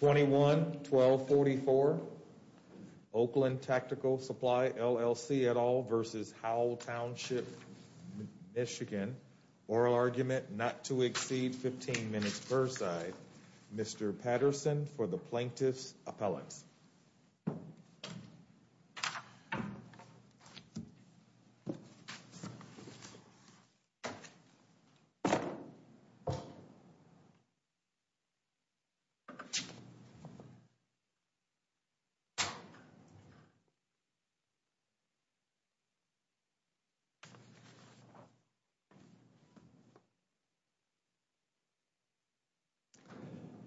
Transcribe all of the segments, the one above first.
21-12-44 Oakland Tactical Supply LLC et al versus Howell Township, Michigan. Oral argument, not to exceed 15 minutes per side. Mr. Patterson for the plaintiff's appellate.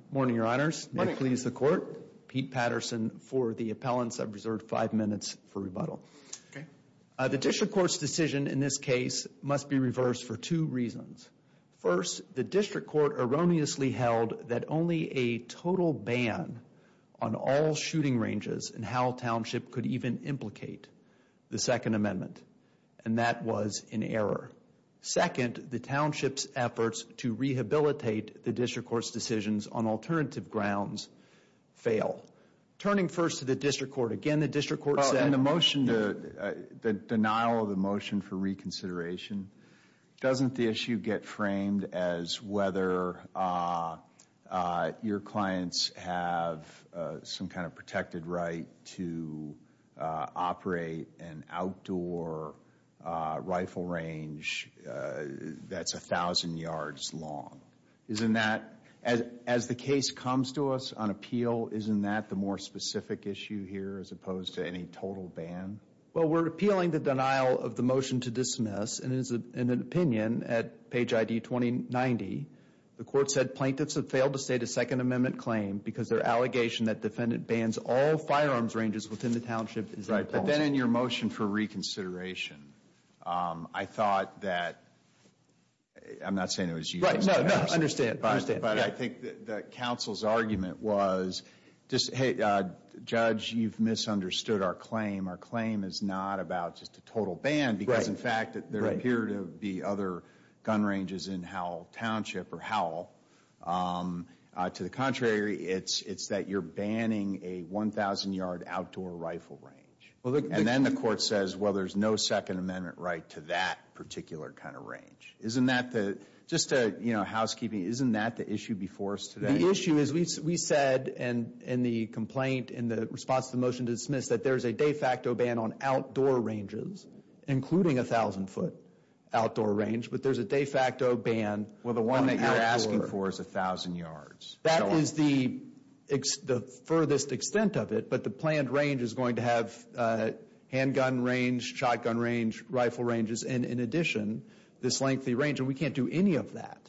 Good morning, your honors, may it please the court. Pete Patterson for the appellants. I've reserved five minutes for rebuttal. The district court's decision in this case must be reversed for two reasons. First, the district court erroneously held that only a total ban on all shooting ranges in Howell Township could even implicate the second amendment. And that was an error. Second, the township's efforts to rehabilitate the district court's decisions on alternative grounds fail. Turning first to the district court, again the district court said. And the motion, the denial of the motion for reconsideration. Doesn't the issue get framed as whether your clients have some kind of protected right to operate an outdoor rifle range that's a thousand yards long? Isn't that, as the case comes to us on appeal, isn't that the more specific issue here as opposed to any total ban? Well, we're appealing the denial of the motion to dismiss. And it is an opinion at page ID 2090. The court said plaintiffs have failed to state a second amendment claim because their allegation that defendant bans all firearms ranges within the township is inappropriate. Right, but then in your motion for reconsideration, I thought that, I'm not saying it was you. Right, no, no, understand, understand. But I think that counsel's argument was just, hey, judge, you've misunderstood our claim. Our claim is not about just a total ban because, in fact, there appear to be other gun ranges in Howell Township or Howell. To the contrary, it's that you're banning a 1,000 yard outdoor rifle range. And then the court says, well, there's no second amendment right to that particular kind of range. Isn't that the, just to, you know, housekeeping, isn't that the issue before us today? The issue is we said in the complaint in the response to the motion to dismiss that there's a de facto ban on outdoor ranges, including a 1,000 foot outdoor range. But there's a de facto ban on outdoor. Well, the one that you're asking for is 1,000 yards. That is the furthest extent of it. But the planned range is going to have handgun range, shotgun range, rifle ranges, and in addition, this lengthy range. And we can't do any of that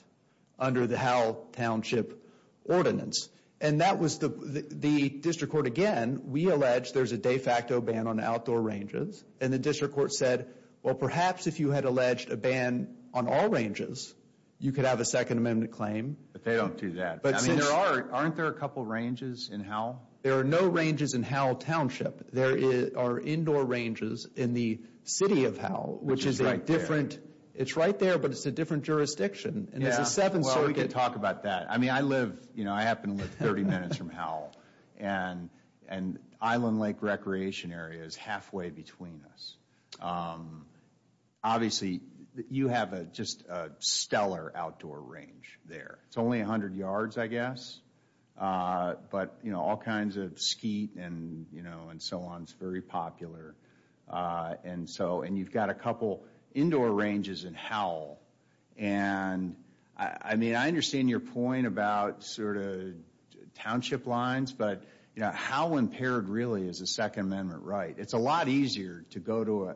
under the Howell Township ordinance. And that was the, the district court, again, we allege there's a de facto ban on outdoor ranges. And the district court said, well, perhaps if you had alleged a ban on all ranges, you could have a second amendment claim. But they don't do that. I mean, there are, aren't there a couple ranges in Howell? There are no ranges in Howell Township. There are indoor ranges in the city of Howell, which is a different. It's right there, but it's a different jurisdiction. And it's a seven circuit. Well, we can talk about that. I mean, I live, you know, I happen to live 30 minutes from Howell. And Island Lake Recreation Area is halfway between us. Obviously, you have just a stellar outdoor range there. It's only 100 yards, I guess. But, you know, all kinds of skeet and, you know, and so on is very popular. And so, and you've got a couple indoor ranges in Howell. And, I mean, I understand your point about sort of township lines. But, you know, how impaired really is a second amendment right? It's a lot easier to go to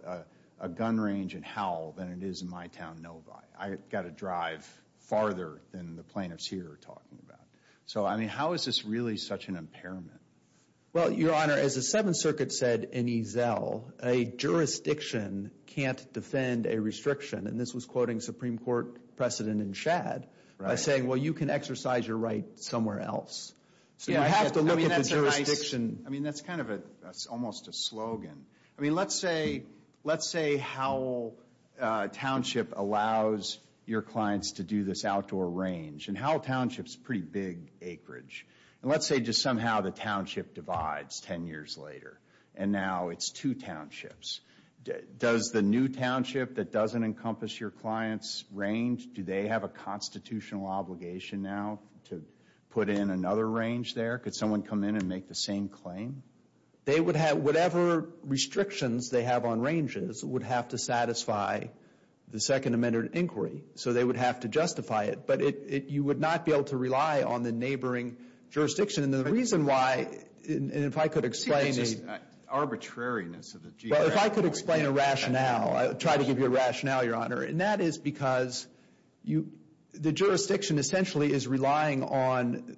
a gun range in Howell than it is in my town, Novi. I've got to drive farther than the plaintiffs here are talking about. So, I mean, how is this really such an impairment? Well, Your Honor, as the seventh circuit said in Ezell, a jurisdiction can't defend a restriction. And this was quoting Supreme Court precedent in Chad by saying, well, you can exercise your right somewhere else. So, you have to look at the jurisdiction. I mean, that's kind of almost a slogan. I mean, let's say Howell Township allows your clients to do this outdoor range. And Howell Township's a pretty big acreage. And let's say just somehow the township divides 10 years later. And now it's two townships. Does the new township that doesn't encompass your client's range, do they have a constitutional obligation now to put in another range there? Could someone come in and make the same claim? They would have whatever restrictions they have on ranges would have to satisfy the second amendment inquiry. So, they would have to justify it. But you would not be able to rely on the neighboring jurisdiction. And the reason why, and if I could explain the... If I could explain a rationale, I'll try to give you a rationale, Your Honor. And that is because the jurisdiction essentially is relying on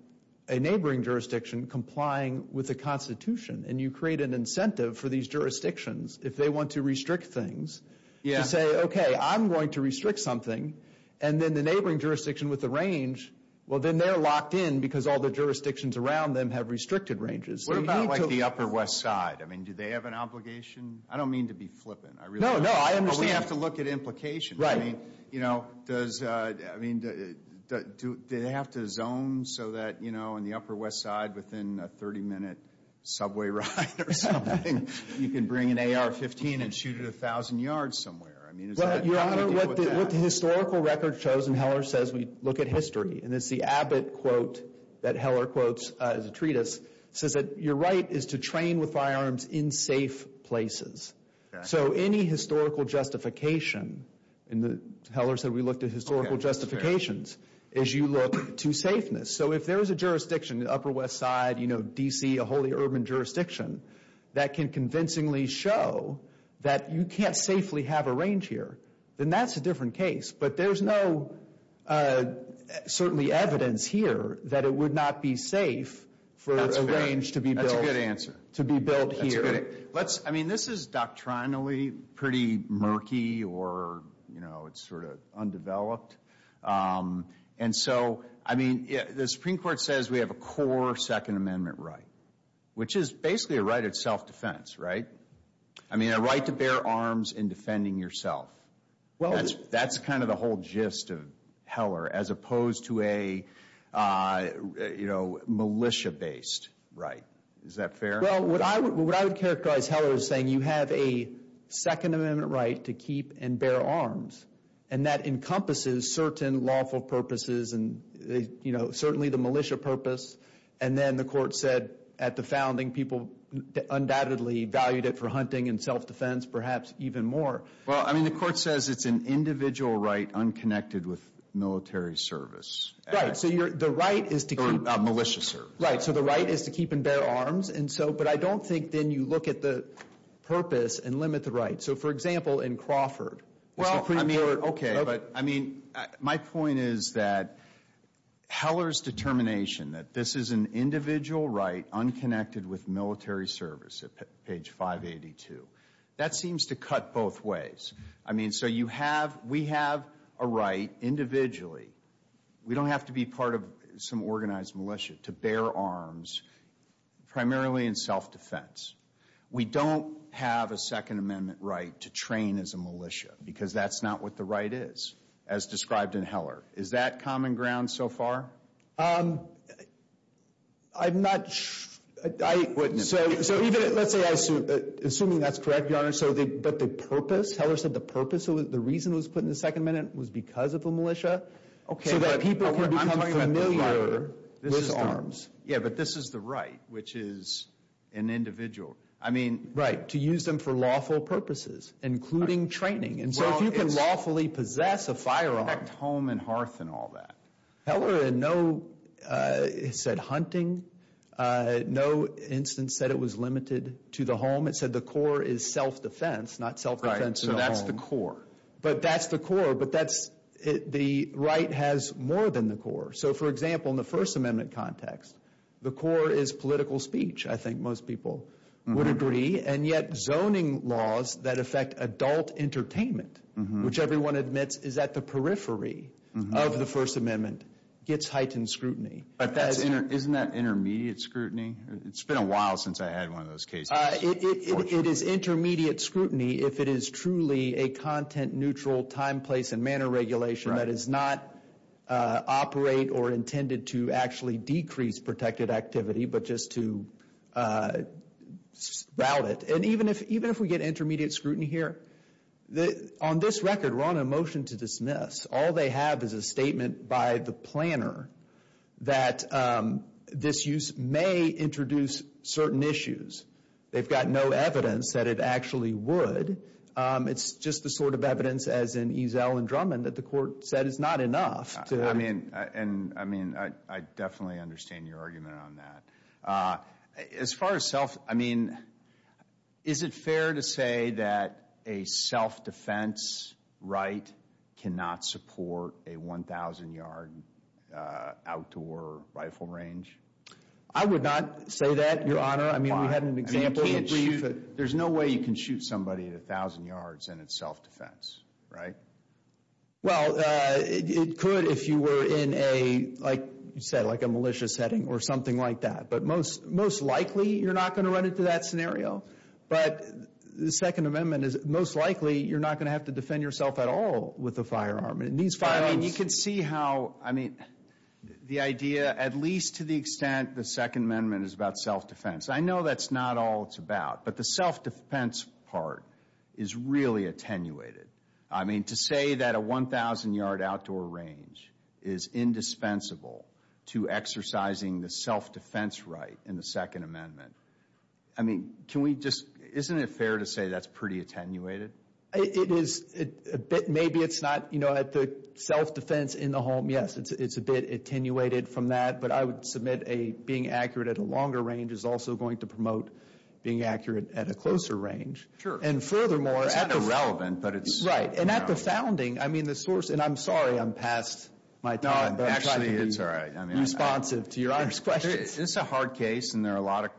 a neighboring jurisdiction complying with the Constitution. And you create an incentive for these jurisdictions, if they want to restrict things, to say, okay, I'm going to restrict something. And then the neighboring jurisdiction with the range, well, then they're locked in because all the jurisdictions around them have restricted ranges. What about like the Upper West Side? I mean, do they have an obligation? I don't mean to be flippant. No, no, I understand. We have to look at implication. Right. You know, does... I mean, do they have to zone so that, you know, in the Upper West Side within a 30-minute subway ride or something, you can bring an AR-15 and shoot it 1,000 yards somewhere? I mean, is that... Your Honor, what the historical record shows, and Heller says we look at history, and it's the Abbott quote that Heller quotes as a treatise, says that your right is to train with firearms in safe places. So any historical justification, and Heller said we looked at historical justifications, is you look to safeness. So if there is a jurisdiction in the Upper West Side, you know, D.C., a wholly urban jurisdiction, that can convincingly show that you can't safely have a range here, then that's a different case. But there's no, certainly, evidence here that it would not be safe for... That's a good answer. ...to be built here. I mean, this is doctrinally pretty murky or, you know, it's sort of undeveloped. And so, I mean, the Supreme Court says we have a core Second Amendment right, which is basically a right of self-defense, right? I mean, a right to bear arms in defending yourself. That's kind of the whole gist of Heller, as opposed to a, you know, militia-based right. Is that fair? Well, what I would characterize Heller as saying, you have a Second Amendment right to keep and bear arms. And that encompasses certain lawful purposes and, you know, certainly the militia purpose. And then the court said at the founding, people undoubtedly valued it for hunting and self-defense, perhaps even more. Well, I mean, the court says it's an individual right unconnected with military service. Right, so the right is to keep... Or militia service. Right, so the right is to keep and bear arms. And so, but I don't think then you look at the purpose and limit the right. So, for example, in Crawford... Well, I mean, okay. But, I mean, my point is that Heller's determination that this is an individual right unconnected with military service at page 582, that seems to cut both ways. I mean, so you have... We have a right individually. We don't have to be part of some organized militia to bear arms, primarily in self-defense. We don't have a Second Amendment right to train as a militia because that's not what the right is, as described in Heller. Is that common ground so far? I'm not... Let's say I assume... Assuming that's correct, Your Honor. But the purpose, Heller said the purpose, the reason it was put in the Second Amendment was because of the militia. Okay, but I'm talking about the right, Your Honor. So that people can become familiar with arms. Yeah, but this is the right, which is an individual. I mean... Right, to use them for lawful purposes, including training. And so, if you can lawfully possess a firearm... Well, it's connect home and hearth and all that. Heller in no, it said hunting, no instance said it was limited to the home. It said the core is self-defense, not self-defense. So that's the core. But that's the core, but that's... The right has more than the core. So, for example, in the First Amendment context, the core is political speech. I think most people would agree. And yet, zoning laws that affect adult entertainment, which everyone admits is at the periphery of the First Amendment, gets heightened scrutiny. But isn't that intermediate scrutiny? It's been a while since I had one of those cases. It is intermediate scrutiny if it is truly a content-neutral time, place and manner regulation that is not operate or intended to actually decrease protected activity, but just to route it. And even if we get intermediate scrutiny here, on this record, we're on a motion to dismiss. All they have is a statement by the planner that this use may introduce certain issues. They've got no evidence that it actually would. It's just the sort of evidence, as in Eazell and Drummond, that the court said is not enough to... I mean, I definitely understand your argument on that. As far as self, I mean, is it fair to say that a self-defense right cannot support a 1,000-yard outdoor rifle range? I would not say that, Your Honor. I mean, we had an example that we used... There's no way you can shoot somebody at 1,000 yards and it's self-defense, right? Well, it could if you were in a, like you said, like a malicious setting or something like that. But most likely, you're not going to run into that scenario. But the Second Amendment is most likely you're not going to have to defend yourself at all with a firearm. And these firearms... I mean, you can see how, I mean, the idea, at least to the extent the Second Amendment is about self-defense. I know that's not all it's about. But the self-defense part is really attenuated. I mean, to say that a 1,000-yard outdoor range is indispensable to exercising the self-defense right in the Second Amendment. I mean, can we just... Isn't it fair to say that's pretty attenuated? It is a bit. Maybe it's not. You know, at the self-defense in the home, yes, it's a bit attenuated from that. But I would submit being accurate at a longer range is also going to promote being accurate at a closer range. Sure. And furthermore... And irrelevant, but it's... Right. And at the founding, I mean, the source... And I'm sorry I'm past my time. No, actually, it's all right. I'm trying to be responsive to your Honor's questions. It's a hard case, and there are a lot of,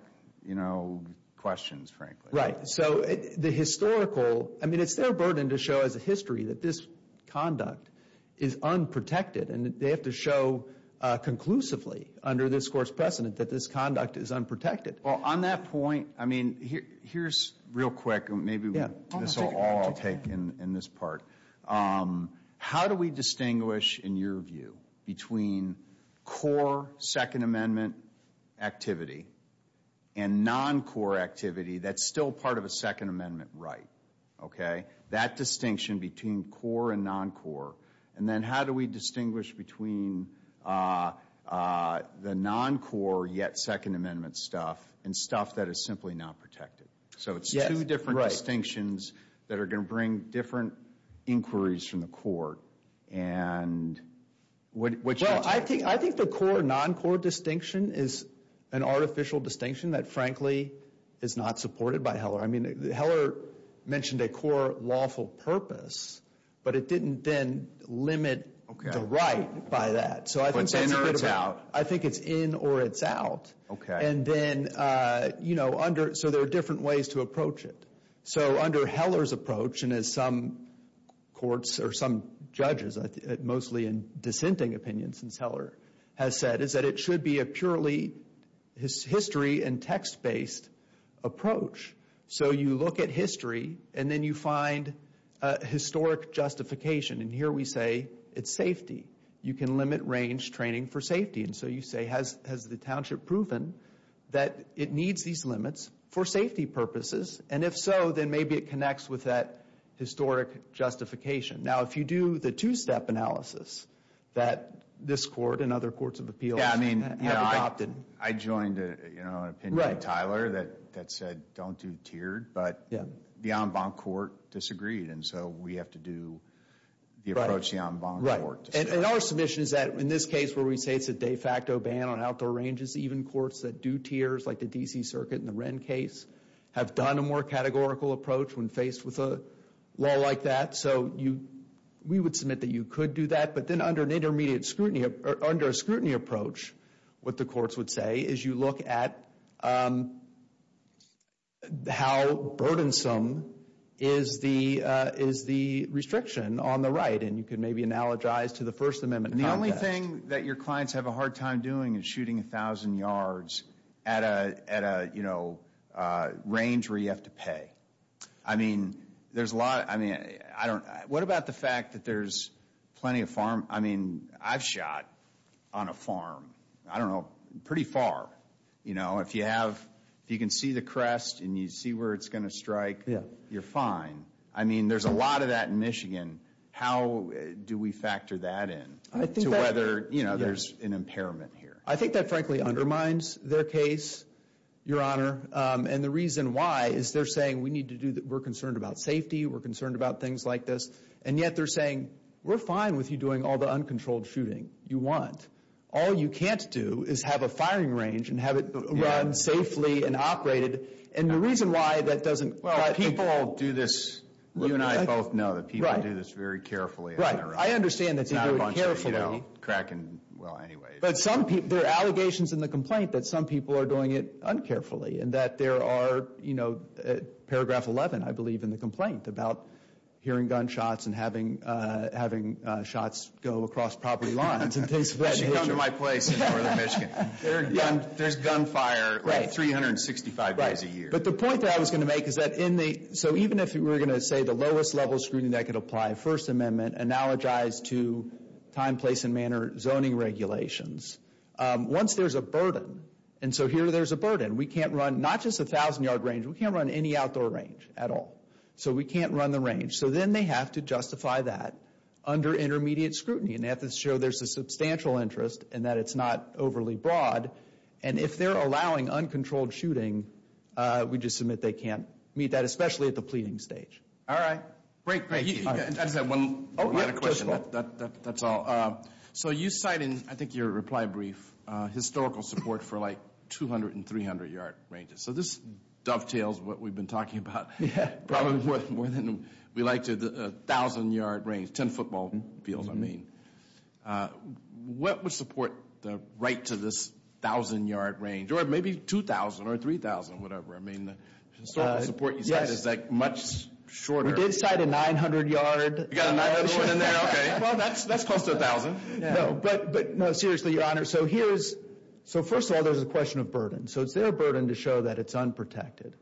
you know, questions, frankly. Right. So the historical... I mean, it's their burden to show as a history that this conduct is unprotected. And they have to show conclusively under this Court's precedent that this conduct is unprotected. Well, on that point, I mean, here's real quick, maybe this will all take in this part. How do we distinguish, in your view, between core Second Amendment activity and non-core activity that's still part of a Second Amendment right? Okay? That distinction between core and non-core. And then how do we distinguish between the non-core yet Second Amendment stuff and stuff that is simply not protected? So it's two different distinctions that are going to bring different inquiries from the Court. And what's your take? Well, I think the core, non-core distinction is an artificial distinction that, frankly, is not supported by Heller. I mean, Heller mentioned a core lawful purpose, but it didn't then limit the right by that. It's in or it's out? I think it's in or it's out. Okay. And then, you know, so there are different ways to approach it. So under Heller's approach, and as some courts or some judges, mostly in dissenting opinions, since Heller has said, is that it should be a purely history and text-based approach. So you look at history, and then you find historic justification. And here we say, it's safety. You can limit range training for safety. And so you say, has the township proven that it needs these limits for safety purposes? And if so, then maybe it connects with that historic justification. Now, if you do the two-step analysis that this Court and other courts of appeals have adopted. I joined an opinion, Tyler, that said don't do tiered, but the en banc court disagreed. And so we have to do the approach And our submission is that in this case, where we say it's a de facto ban on outdoor ranges, even courts that do tiers like the D.C. Circuit and the Wren case have done a more categorical approach when faced with a law like that. So we would submit that you could do that. But then under an intermediate scrutiny, under a scrutiny approach, what the courts would say is you look at how burdensome is the restriction on the right. And you can maybe analogize to the First Amendment. And the only thing that your clients have a hard time doing is shooting 1,000 yards at a range where you have to pay. I mean, there's a lot. I mean, I don't know. What about the fact that there's plenty of farm? I mean, I've shot on a farm, I don't know, pretty far. You know, if you have, if you can see the crest and you see where it's going to strike, you're fine. I mean, there's a lot of that in Michigan. How do we factor that in to whether, you know, there's an impairment here? I think that frankly undermines their case, Your Honor. And the reason why is they're saying we need to do that. We're concerned about safety. We're concerned about things like this. And yet they're saying, we're fine with you doing all the uncontrolled shooting you want. All you can't do is have a firing range and have it run safely and operated. And the reason why that doesn't. Well, people do this. You and I both know that people do this very carefully. Right. I understand that they do it carefully. Not a bunch of, you know, cracking, well, anyway. But some people, there are allegations in the complaint that some people are doing it uncarefully and that there are, you know, paragraph 11, I believe, in the complaint about hearing gunshots and having shots go across property lines. I should go to my place in northern Michigan. There's gunfire 365 days a year. But the point that I was going to make is that in the, so even if we're going to say the lowest level screening that could apply, First Amendment, analogized to time, place, and manner zoning regulations, once there's a burden, and so here there's a burden, we can't run not just a thousand yard range, we can't run any outdoor range at all. So we can't run the range. So then they have to justify that under intermediate scrutiny and have to show there's a substantial interest and that it's not overly broad. And if they're allowing uncontrolled shooting, we just submit they can't meet that, especially at the pleading stage. All right. Great, great. I just have one final question. That's all. So you cite in, I think, your reply brief, historical support for like 200 and 300 yard ranges. So this dovetails what we've been talking about. Probably more than we like to, the thousand yard range, 10 football fields, I mean. What would support the right to this thousand yard range? Or maybe 2,000 or 3,000, whatever. I mean, the historical support you said is like much shorter. We did cite a 900 yard range. You got a 900 in there, okay. Well, that's close to a thousand. No, but no, seriously, your honor. So here's, so first of all, there's a question of burden. So it's their burden to show that it's unprotected.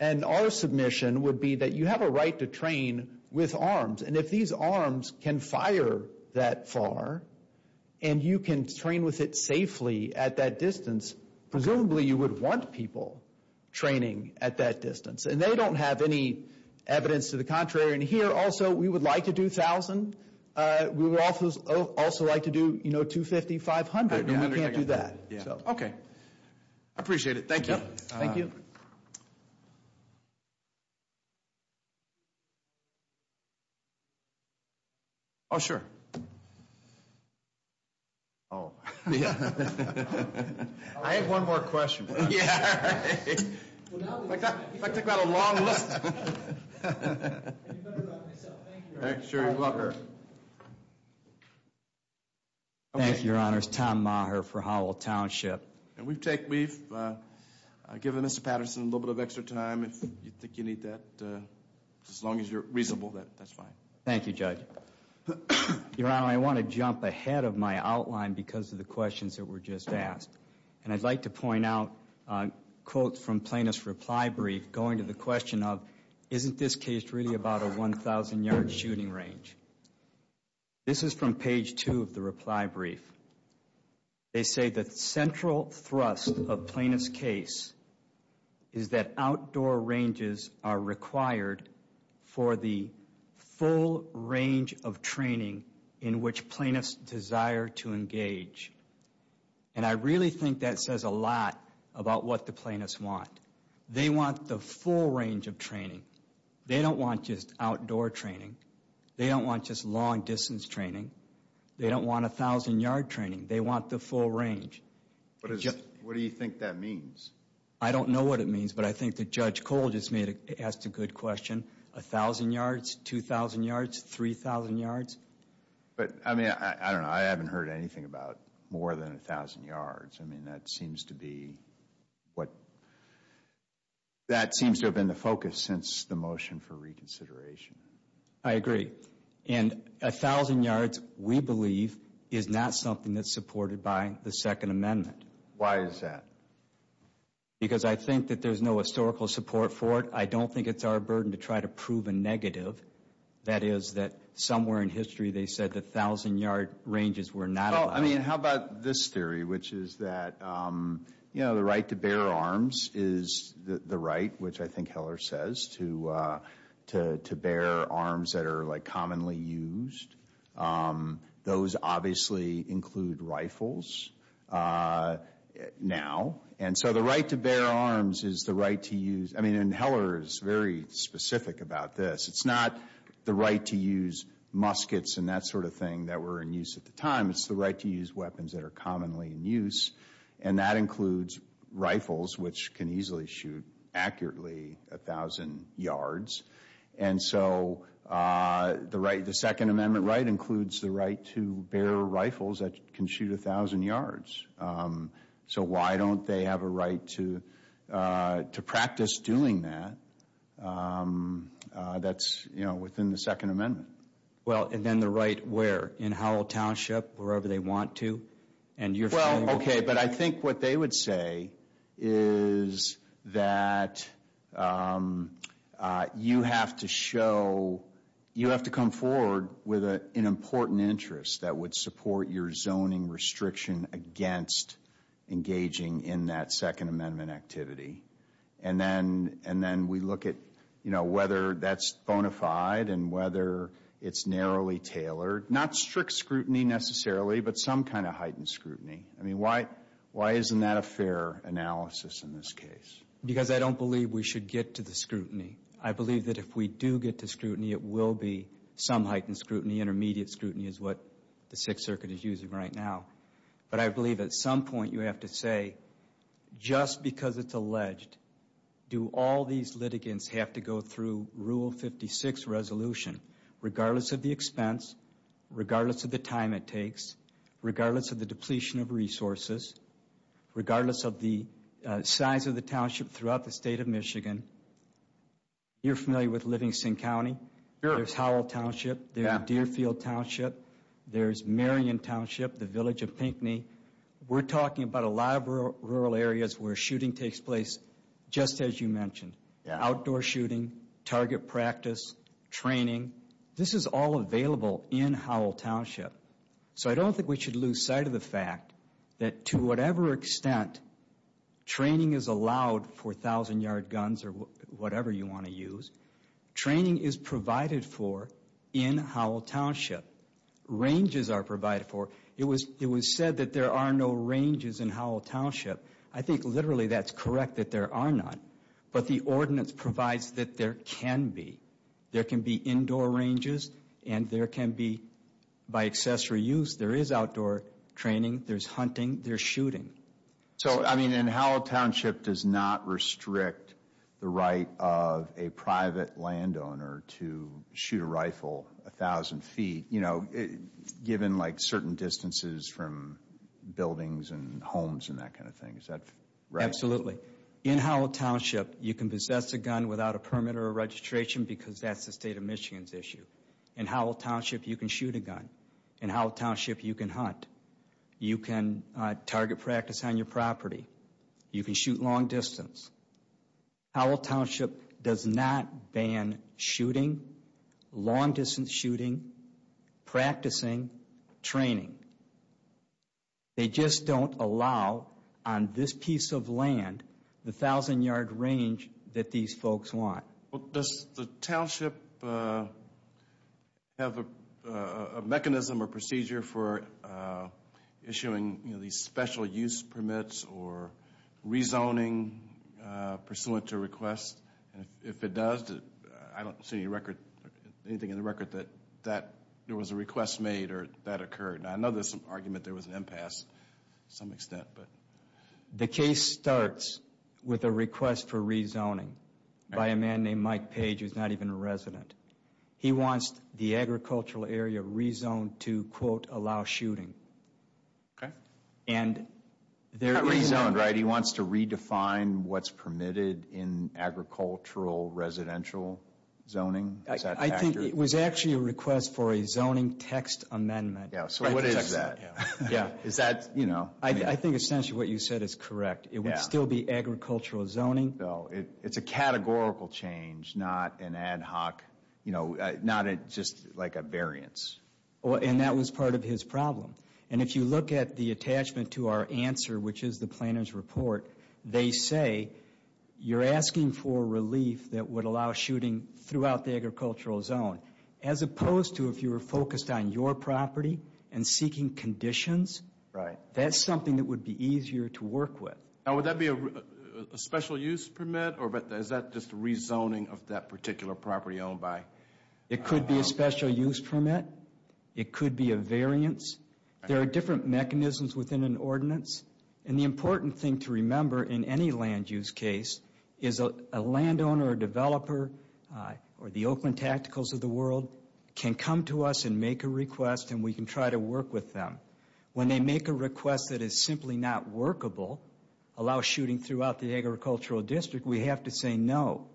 And our submission would be that you have a right to train with arms. And if these arms can fire that far and you can train with it safely at that distance, presumably you would want people training at that distance. And they don't have any evidence to the contrary. And here also, we would like to do 1,000. We would also like to do, you know, 250, 500. We can't do that, so. Okay, I appreciate it. Thank you. Thank you. Oh, sure. I have one more question. Yeah, all right. If I took that a long list. Thank you, your honors. Tom Maher for Howell Township. And we've taken, we've given Mr. Patterson a little bit of extra time. If you think you need that, as long as you're reasonable, that's fine. Thank you, judge. Your honor, I want to jump ahead of my outline because of the questions that were just asked. And I'd like to point out a quote from plaintiff's reply brief, going to the question of, isn't this case really about a 1,000 yard shooting range? This is from page two of the reply brief. They say the central thrust of plaintiff's case is that outdoor ranges are required for the full range of training in which plaintiffs desire to engage. And I really think that says a lot about what the plaintiffs want. They want the full range of training. They don't want just outdoor training. They don't want just long distance training. They don't want 1,000 yard training. They want the full range. What do you think that means? I don't know what it means, but I think that Judge Cole just asked a good question. 1,000 yards, 2,000 yards, 3,000 yards. But I mean, I don't know. More than 1,000 yards. I mean, that seems to be what, that seems to have been the focus since the motion for reconsideration. I agree. And 1,000 yards, we believe, is not something that's supported by the Second Amendment. Why is that? Because I think that there's no historical support for it. I don't think it's our burden to try to prove a negative. That is that somewhere in history, they said that 1,000 yard ranges were not allowed. Well, I mean, how about this theory, which is that, you know, the right to bear arms is the right, which I think Heller says, to bear arms that are like commonly used. Those obviously include rifles now. And so the right to bear arms is the right to use, I mean, and Heller is very specific about this. It's not the right to use muskets and that sort of thing that were in use at the time. It's the right to use weapons that are commonly in use. And that includes rifles, which can easily shoot accurately 1,000 yards. And so the Second Amendment right includes the right to bear rifles that can shoot 1,000 yards. So why don't they have a right to practice doing that? That's, you know, within the Second Amendment. Well, and then the right where? In Howell Township, wherever they want to? And you're saying... Well, okay, but I think what they would say is that you have to show, you have to come forward with an important interest that would support your zoning restriction against engaging in that Second Amendment activity. And then we look at, you know, whether that's bona fide and whether it's narrowly tailored. Not strict scrutiny necessarily, but some kind of heightened scrutiny. I mean, why isn't that a fair analysis in this case? Because I don't believe we should get to the scrutiny. I believe that if we do get to scrutiny, it will be some heightened scrutiny. Intermediate scrutiny is what the Sixth Circuit is using right now. But I believe at some point you have to say, just because it's alleged, do all these litigants have to go through Rule 56 resolution, regardless of the expense, regardless of the time it takes, regardless of the depletion of resources, regardless of the size of the township throughout the state of Michigan. You're familiar with Livingston County. There's Howell Township. There's Deerfield Township. There's Marion Township, the village of Pinckney. We're talking about a lot of rural areas where shooting takes place just as you mentioned. Outdoor shooting, target practice, training. This is all available in Howell Township. So I don't think we should lose sight of the fact that to whatever extent training is allowed for 1,000-yard guns or whatever you want to use, training is provided for in Howell Township. Ranges are provided for. It was said that there are no ranges in Howell Township. I think literally that's correct, that there are none. But the ordinance provides that there can be. There can be indoor ranges. And there can be, by accessory use, there is outdoor training. There's hunting. There's shooting. So, I mean, in Howell Township does not restrict the right of a private landowner to shoot a rifle 1,000 feet. You know, given like certain distances from buildings and homes and that kind of thing. Is that right? Absolutely. In Howell Township, you can possess a gun without a permit or a registration because that's the state of Michigan's issue. In Howell Township, you can shoot a gun. In Howell Township, you can hunt. You can target practice on your property. You can shoot long distance. Howell Township does not ban shooting, long distance shooting, practicing, training. They just don't allow on this piece of land the 1,000 yard range that these folks want. Well, does the township have a mechanism or procedure for issuing these special use permits or rezoning pursuant to request? And if it does, I don't see anything in the record that there was a request made or that occurred. Now, I know there's some argument there was an impasse to some extent, but... The case starts with a request for rezoning by a man named Mike Page, who's not even a resident. He wants the agricultural area rezoned to, quote, allow shooting. Okay. And there is... Not rezoned, right? He wants to redefine what's permitted in agricultural residential zoning. I think it was actually a request for a zoning text amendment. Yeah, so what is that? Yeah, is that, you know... I think essentially what you said is correct. It would still be agricultural zoning. No, it's a categorical change, not an ad hoc, you know, not just like a variance. And that was part of his problem. And if you look at the attachment to our answer, which is the planner's report, they say you're asking for relief that would allow shooting throughout the agricultural zone, as opposed to if you were focused on your property and seeking conditions. Right. That's something that would be easier to work with. Now, would that be a special use permit, or is that just a rezoning of that particular property owned by... It could be a special use permit. It could be a variance. There are different mechanisms within an ordinance. And the important thing to remember in any land use case is a landowner or developer or the Oakland Tacticals of the world can come to us and make a request and we can try to work with them. When they make a request that is simply not workable, allow shooting throughout the agricultural district, we have to say no.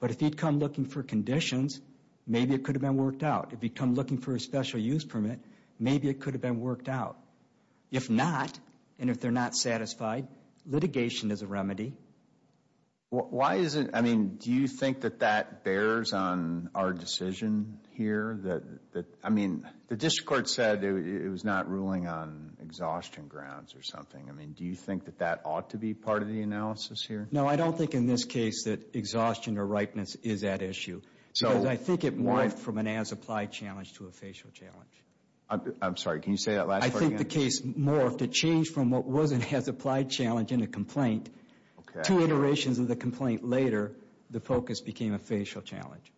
But if he'd come looking for conditions, maybe it could have been worked out. If he'd come looking for a special use permit, maybe it could have been worked out. If not, and if they're not satisfied, litigation is a remedy. Why is it... I mean, do you think that that bears on our decision here? I mean, the district court said it was not ruling on exhaustion grounds or something. I mean, do you think that that ought to be part of the analysis here? No, I don't think in this case that exhaustion or ripeness is at issue. Because I think it morphed from an as-applied challenge to a facial challenge. I'm sorry, can you say that last part again? I think the case morphed to change from what was an as-applied challenge in a complaint to iterations of the complaint later, the focus became a facial challenge.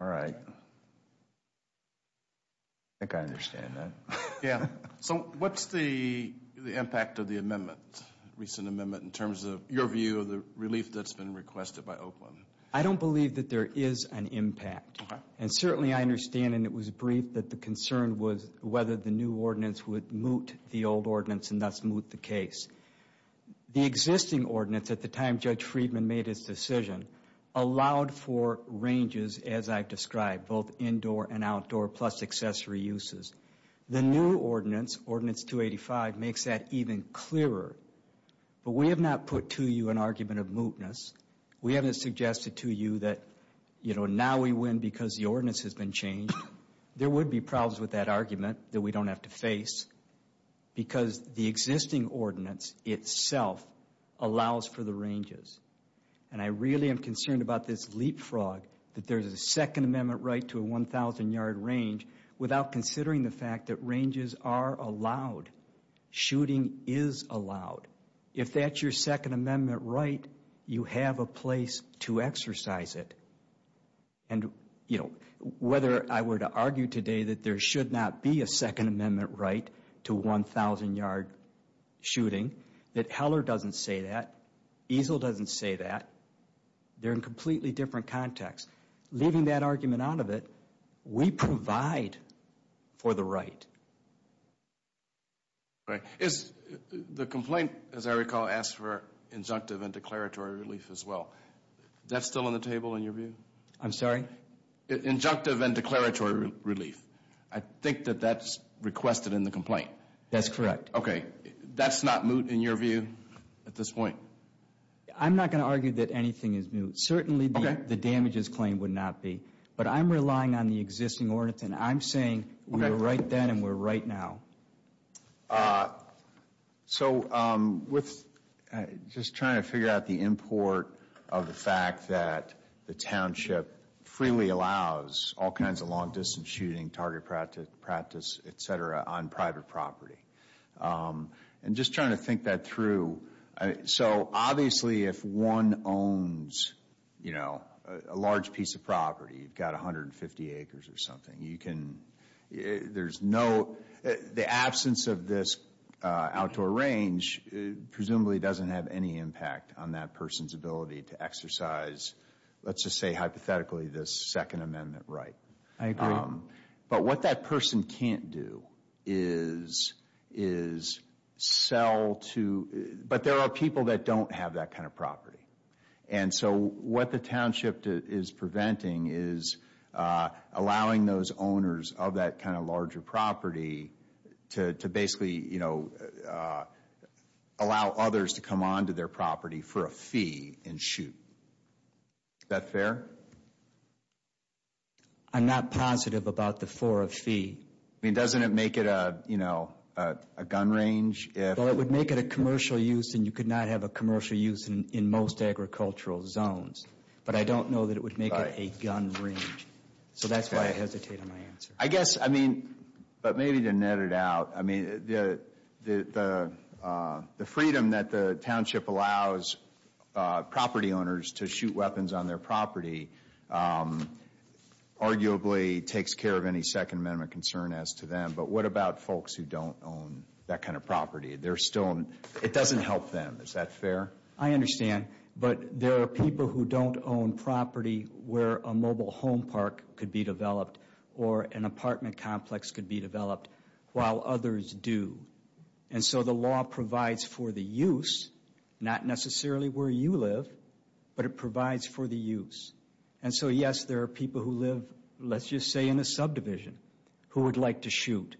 All right. I think I understand that. Yeah. So what's the impact of the amendment, recent amendment, in terms of your view of the relief that's been requested by Oakland? I don't believe that there is an impact. And certainly I understand, and it was brief, that the concern was whether the new ordinance would moot the old ordinance and thus moot the case. The existing ordinance, at the time Judge Friedman made his decision, allowed for ranges, as I've described, both indoor and outdoor, plus accessory uses. The new ordinance, Ordinance 285, makes that even clearer. But we have not put to you an argument of mootness. We haven't suggested to you that, you know, now we win because the ordinance has been changed. There would be problems with that argument that we don't have to face, because the existing ordinance itself allows for the ranges. And I really am concerned about this leapfrog that there's a second amendment right to a 1,000-yard range without considering the fact that ranges are allowed. Shooting is allowed. If that's your second amendment right, you have a place to exercise it. And, you know, whether I were to argue today that there should not be a second amendment right to 1,000-yard shooting, that Heller doesn't say that, Easel doesn't say that, they're in completely different contexts. Leaving that argument out of it, we provide for the right. All right. Is the complaint, as I recall, asks for injunctive and declaratory relief as well. That's still on the table in your view? I'm sorry? Injunctive and declaratory relief. I think that that's requested in the complaint. That's correct. Okay. That's not moot in your view at this point? I'm not going to argue that anything is moot. Certainly, the damages claim would not be. But I'm relying on the existing ordinance, and I'm saying we were right then and we're right now. So, with just trying to figure out the import of the fact that the township freely allows all kinds of long-distance shooting, target practice, et cetera, on private property. And just trying to think that through. So, obviously, if one owns, you know, a large piece of property, you've got 150 acres or something, you can, there's no, the absence of this outdoor range, presumably, doesn't have any impact on that person's ability to exercise, let's just say hypothetically, this Second Amendment right. I agree. But what that person can't do is sell to, but there are people that don't have that kind of property. And so, what the township is preventing is allowing those owners of that kind of larger property to basically, you know, allow others to come onto their property for a fee and shoot. Is that fair? I'm not positive about the for a fee. I mean, doesn't it make it a, you know, a gun range? Well, it would make it a commercial use, and you could not have a commercial use in most agricultural zones. But I don't know that it would make it a gun range. So that's why I hesitate on my answer. I guess, I mean, but maybe to net it out, I mean, the freedom that the township allows property owners to shoot weapons on their property arguably takes care of any Second Amendment concern as to them. But what about folks who don't own that kind of property? They're still, it doesn't help them. Is that fair? I understand. But there are people who don't own property where a mobile home park could be developed or an apartment complex could be developed while others do. And so the law provides for the use, not necessarily where you live, but it provides for the use. And so, yes, there are people who live, let's just say, in a subdivision who would like to shoot.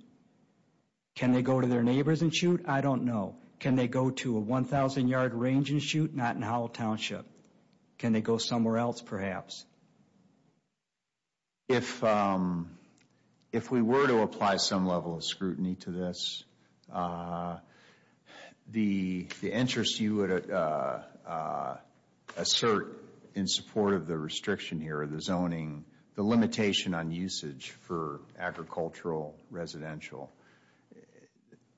Can they go to their neighbors and shoot? I don't know. Can they go to a 1,000-yard range and shoot? Not in Howell Township. Can they go somewhere else, perhaps? If we were to apply some level of scrutiny to this, the interest you would assert in support of the restriction here, the zoning, the limitation on usage for agricultural residential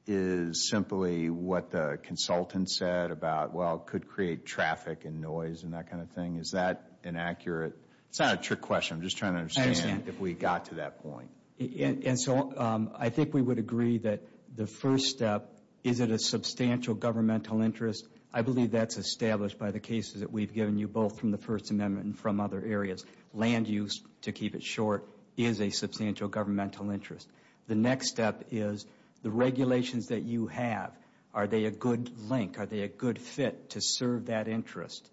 is simply what the consultant said about, could create traffic and noise and that kind of thing. Is that inaccurate? It's not a trick question. I'm just trying to understand if we got to that point. And so I think we would agree that the first step, is it a substantial governmental interest? I believe that's established by the cases that we've given you, both from the First Amendment and from other areas. Land use, to keep it short, is a substantial governmental interest. The next step is the regulations that you have, are they a good link? To serve that interest.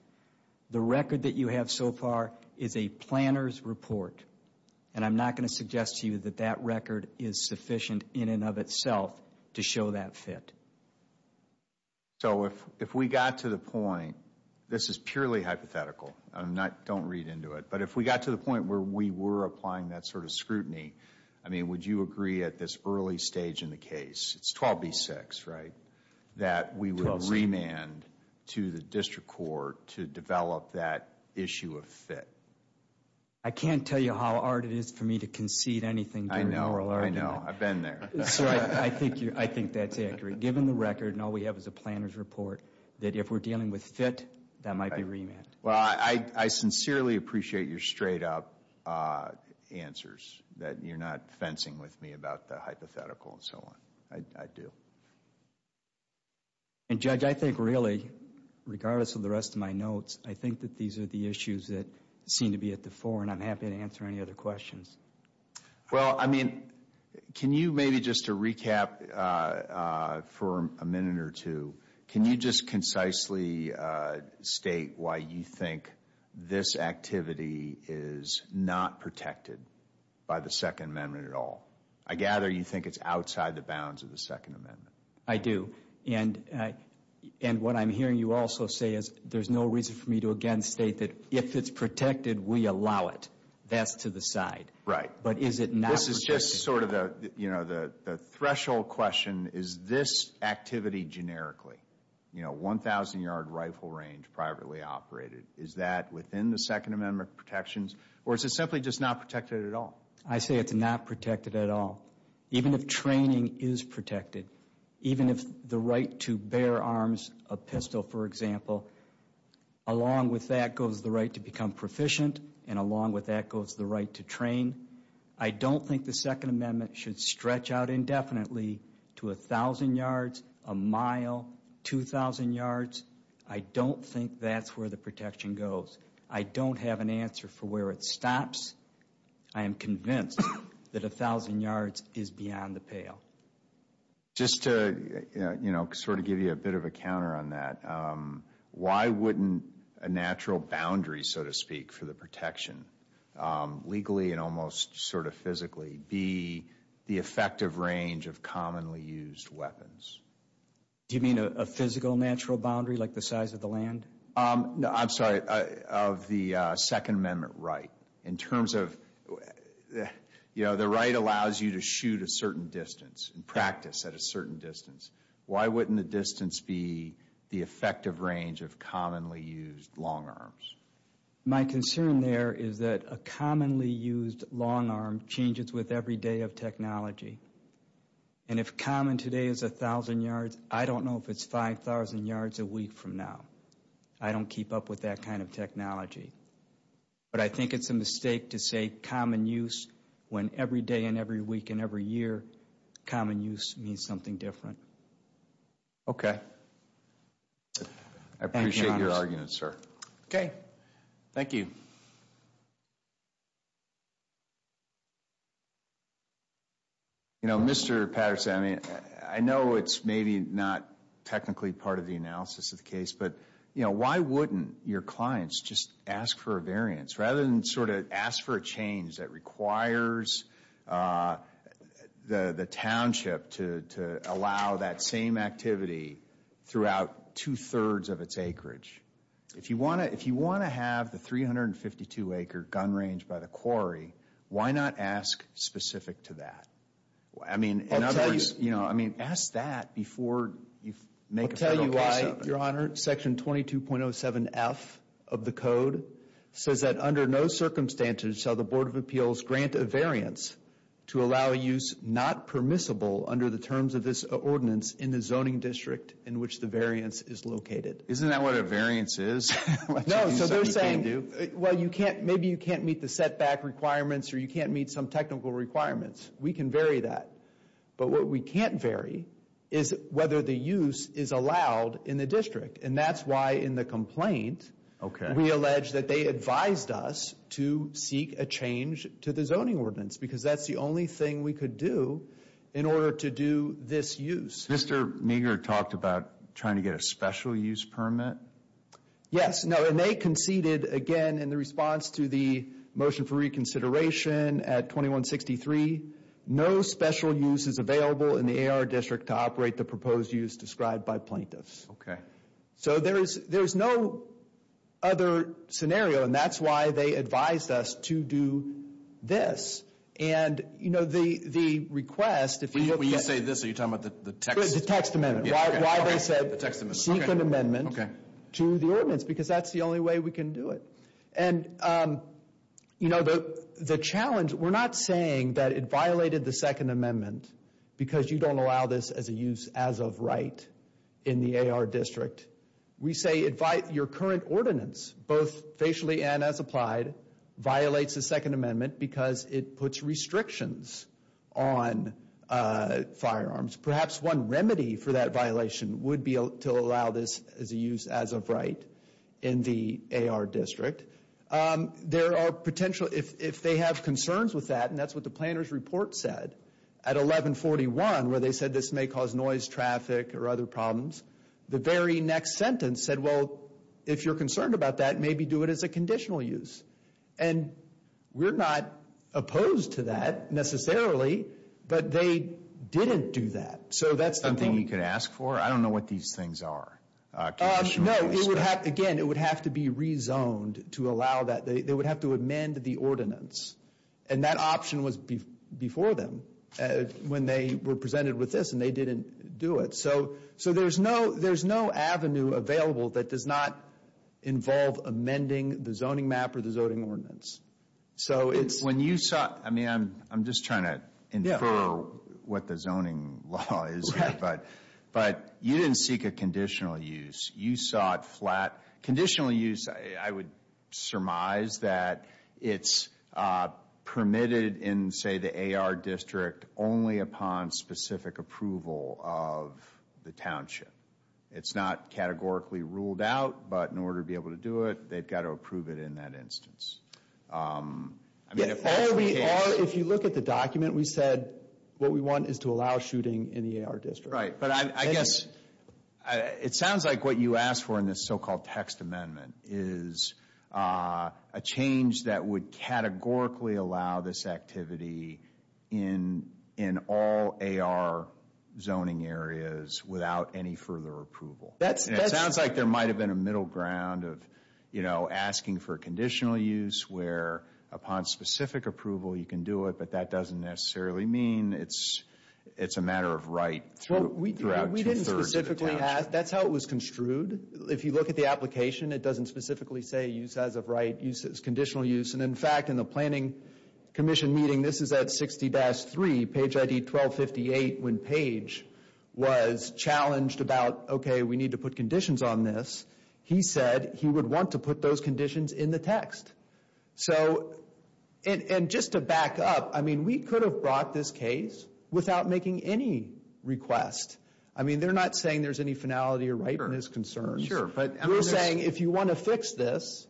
The record that you have so far is a planner's report. And I'm not going to suggest to you that that record is sufficient in and of itself to show that fit. So if we got to the point, this is purely hypothetical. Don't read into it. But if we got to the point where we were applying that sort of scrutiny, I mean, would you agree at this early stage in the case, it's 12B6, right? That we would remand to the district court to develop that issue of fit. I can't tell you how hard it is for me to concede anything during oral argument. I know, I've been there. So I think that's accurate. Given the record, and all we have is a planner's report, that if we're dealing with fit, that might be remand. Well, I sincerely appreciate your straight up answers, that you're not fencing with me about the hypothetical and so on. I do. And Judge, I think really, regardless of the rest of my notes, I think that these are the issues that seem to be at the fore. And I'm happy to answer any other questions. Well, I mean, can you maybe just to recap for a minute or two, can you just concisely state why you think this activity is not protected by the Second Amendment at all? I gather you think it's outside the bounds of the Second Amendment. I do. And what I'm hearing you also say is there's no reason for me to again, state that if it's protected, we allow it. That's to the side. Right. But is it not? This is just sort of the threshold question. Is this activity generically, 1,000 yard rifle range privately operated? Is that within the Second Amendment protections? Or is it simply just not protected at all? I say it's not protected at all. Even if training is protected, even if the right to bear arms a pistol, for example, along with that goes the right to become proficient. And along with that goes the right to train. I don't think the Second Amendment should stretch out indefinitely to 1,000 yards, a mile, 2,000 yards. I don't think that's where the protection goes. I don't have an answer for where it stops. I am convinced that 1,000 yards is beyond the pale. Just to sort of give you a bit of a counter on that, why wouldn't a natural boundary, so to speak, for the protection legally and almost sort of physically be the effective range of commonly used weapons? Do you mean a physical natural boundary, like the size of the land? I'm sorry, of the Second Amendment right. In terms of, the right allows you to shoot a certain distance. Practice at a certain distance. Why wouldn't the distance be the effective range of commonly used long arms? My concern there is that a commonly used long arm changes with every day of technology. And if common today is 1,000 yards, I don't know if it's 5,000 yards a week from now. I don't keep up with that kind of technology. But I think it's a mistake to say common use when every day and every week and every year common use means something different. OK. I appreciate your argument, Sir. OK, thank you. You know, Mr. Patterson, I mean, I know it's maybe not technically part of the analysis of the case, but you know, why wouldn't your clients just ask for a variance rather than sort of ask for a change that requires the township to allow that same activity throughout two-thirds of its acreage? If you want to have the 352-acre gun range by the quarry, why not ask specific to that? I mean, in other words, you know, I mean, ask that before you make a federal case of it. I'll tell you why, Your Honor. Section 22.07F of the code says that under no circumstances shall the Board of Appeals grant a variance to allow a use not permissible under the terms of this ordinance in the zoning district in which the variance is located. Isn't that what a variance is? No, so they're saying, well, you can't, maybe you can't meet the setback requirements or you can't meet some technical requirements. We can vary that. But what we can't vary is whether the use is allowed in the district. And that's why in the complaint, we allege that they advised us to seek a change to the zoning ordinance because that's the only thing we could do in order to do this use. Mr. Neger talked about trying to get a special use permit. Yes, no, and they conceded again in the response to the motion for reconsideration at 2163, no special use is available in the AR district to operate the proposed use described by plaintiffs. Okay. So there is, there's no other scenario and that's why they advised us to do this. And, you know, the, the request, When you say this, are you talking about the text? The text amendment. Why they said, seek an amendment to the ordinance because that's the only way we can do it. And, you know, the challenge, we're not saying that it violated the second amendment because you don't allow this as a use as of right in the AR district. We say invite your current ordinance, both facially and as applied, violates the second amendment because it puts restrictions on firearms. Perhaps one remedy for that violation would be to allow this as a use as of right in the AR district. There are potential, if they have concerns with that, and that's what the planner's report said, at 1141, where they said this may cause noise, traffic or other problems, the very next sentence said, if you're concerned about that, maybe do it as a conditional use. And we're not opposed to that necessarily, but they didn't do that. So that's something you could ask for. I don't know what these things are. Again, it would have to be rezoned to allow that. They would have to amend the ordinance. And that option was before them when they were presented with this and they didn't do it. So there's no avenue available that does not involve amending the zoning map or the zoning ordinance. So it's... When you saw... I mean, I'm just trying to infer what the zoning law is, but you didn't seek a conditional use. You saw it flat. Conditional use, I would surmise that it's permitted in, say, the AR district only upon specific approval of the township. It's not categorically ruled out, but in order to be able to do it, they've got to approve it in that instance. If you look at the document, we said what we want is to allow shooting in the AR district. Right. But I guess it sounds like what you asked for in this so-called text amendment is a change that would categorically allow this activity in all AR zoning areas without any further approval. That's... And it sounds like there might have been a middle ground of, you know, asking for conditional use where upon specific approval you can do it, but that doesn't necessarily mean it's a matter of right throughout the township. We didn't specifically ask. That's how it was construed. If you look at the application, it doesn't specifically say use as of right, use as conditional use. And in fact, in the planning commission meeting, this is at 60-3, page ID 1258, when Page was challenged about, okay, we need to put conditions on this. He said he would want to put those conditions in the text. So, and just to back up, I mean, we could have brought this case without making any request. I mean, they're not saying there's any finality or rightness concerns. Sure. But we're saying if you want to fix this,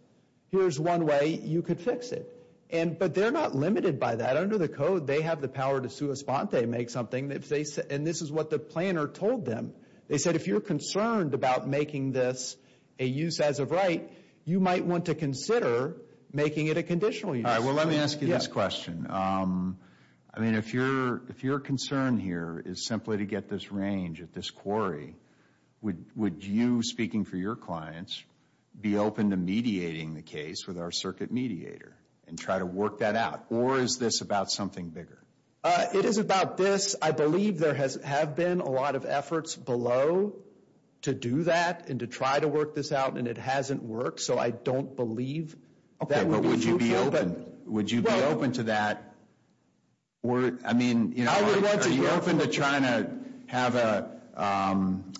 here's one way you could fix it. And, but they're not limited by that. Under the code, they have the power to sua sponte, make something if they say, and this is what the planner told them. They said, if you're concerned about making this a use as of right, you might want to consider making it a conditional use. All right. Well, let me ask you this question. I mean, if your concern here is simply to get this range at this quarry, would you, speaking for your clients, be open to mediating the case with our circuit mediator and try to work that out? Or is this about something bigger? It is about this. I believe there has have been a lot of efforts below to do that and to try to work this out. And it hasn't worked. So I don't believe that. But would you be open? Would you be open to that? I mean, are you open to trying to have a,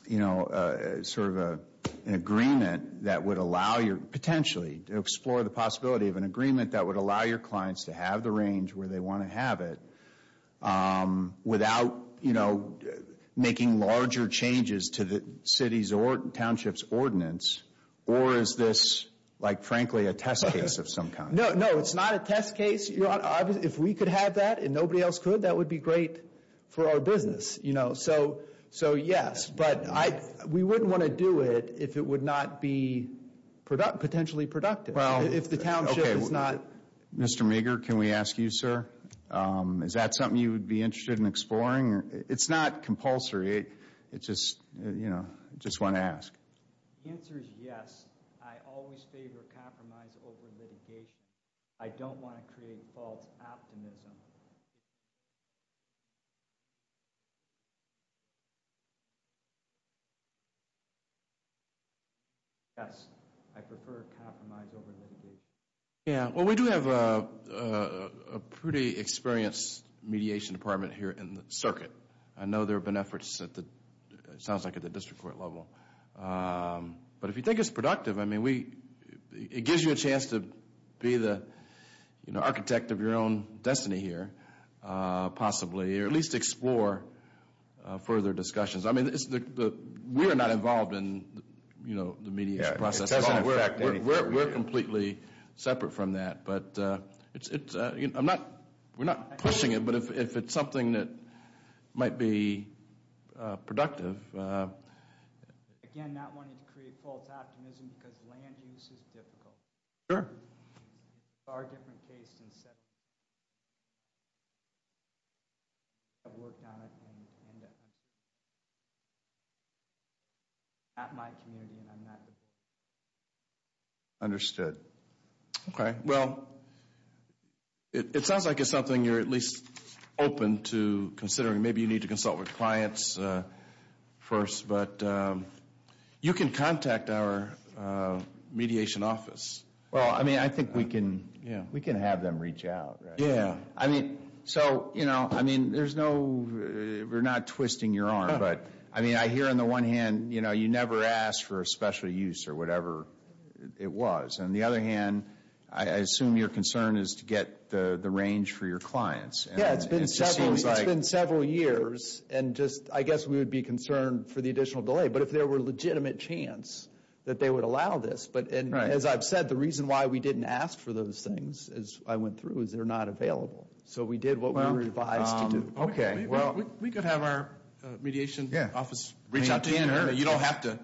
you know, sort of an agreement that would allow you potentially to explore the possibility of an agreement that would allow your clients to have the range where they want to have it. Um, without, you know, making larger changes to the city's or township's ordinance. Or is this, like, frankly, a test case of some kind? No, no, it's not a test case. If we could have that and nobody else could, that would be great for our business. You know, so, so yes. But I, we wouldn't want to do it if it would not be potentially productive. Well, if the township is not. Mr. Meager, can we ask you, sir? Is that something you would be interested in exploring? It's not compulsory. It's just, you know, just want to ask. The answer is yes. I always favor compromise over litigation. I don't want to create false optimism. Yes, I prefer compromise over litigation. Yeah, well, we do have a pretty experienced mediation department here in the circuit. I know there have been efforts at the, it sounds like at the district court level. But if you think it's productive, I mean, we, it gives you a chance to be the, you know, architect of your own destiny here. Possibly, or at least explore further discussions. I mean, it's the, we're not involved in, you know, the mediation process. We're completely separate from that. But it's, you know, I'm not, we're not pushing it. But if it's something that might be productive. Again, not wanting to create false optimism because land use is difficult. Sure. Far different case. I've worked on it. I'm at my community and I'm not. Understood. Okay, well, it sounds like it's something you're at least open to considering. Maybe you need to consult with clients first. But you can contact our mediation office. Well, I mean, I think we can, yeah, we can have them reach out. Yeah, I mean, so, you know, I mean, there's no, we're not twisting your arm. But I mean, I hear on the one hand, you know, you never asked for a special use or whatever it was. On the other hand, I assume your concern is to get the range for your clients. Yeah, it's been several years. And just, I guess we would be concerned for the additional delay. But if there were legitimate chance that they would allow this. But as I've said, the reason why we didn't ask for those things as I went through is they're not available. So we did what we were advised to do. Okay, well. We could have our mediation office reach out to you. You don't have to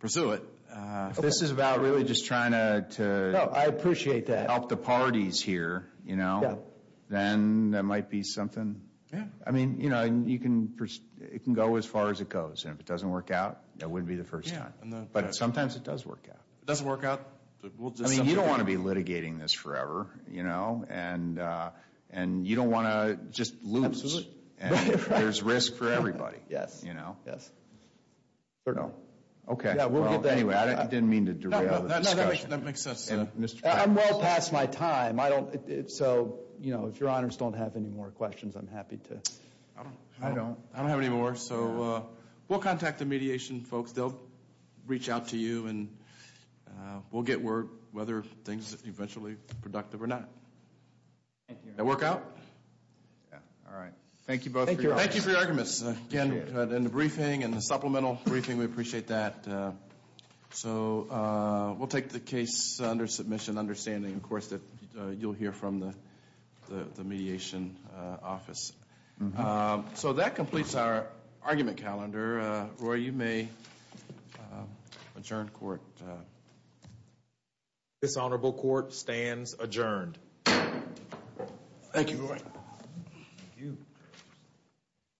pursue it. This is about really just trying to. No, I appreciate that. Help the parties here, you know. Then that might be something. Yeah. I mean, you know, you can, it can go as far as it goes. And if it doesn't work out, that wouldn't be the first time. But sometimes it does work out. It doesn't work out. I mean, you don't want to be litigating this forever, you know. And you don't want to just lose. Absolutely. And there's risk for everybody. Yes. You know. Yes. Certainly. Okay. Yeah, we'll get there. Anyway, I didn't mean to derail the discussion. That makes sense. I'm well past my time. I don't. So, you know, if your honors don't have any more questions, I'm happy to. I don't. I don't have any more. So we'll contact the mediation folks. They'll reach out to you. And we'll get word whether things are eventually productive or not. That work out? Yeah. All right. Thank you both. Thank you for your arguments. Again, in the briefing and the supplemental briefing, we appreciate that. So we'll take the case under submission, understanding, of course, that you'll hear from the mediation office. So that completes our argument calendar. Roy, you may adjourn court. This honorable court stands adjourned. Thank you, Roy. Thank you.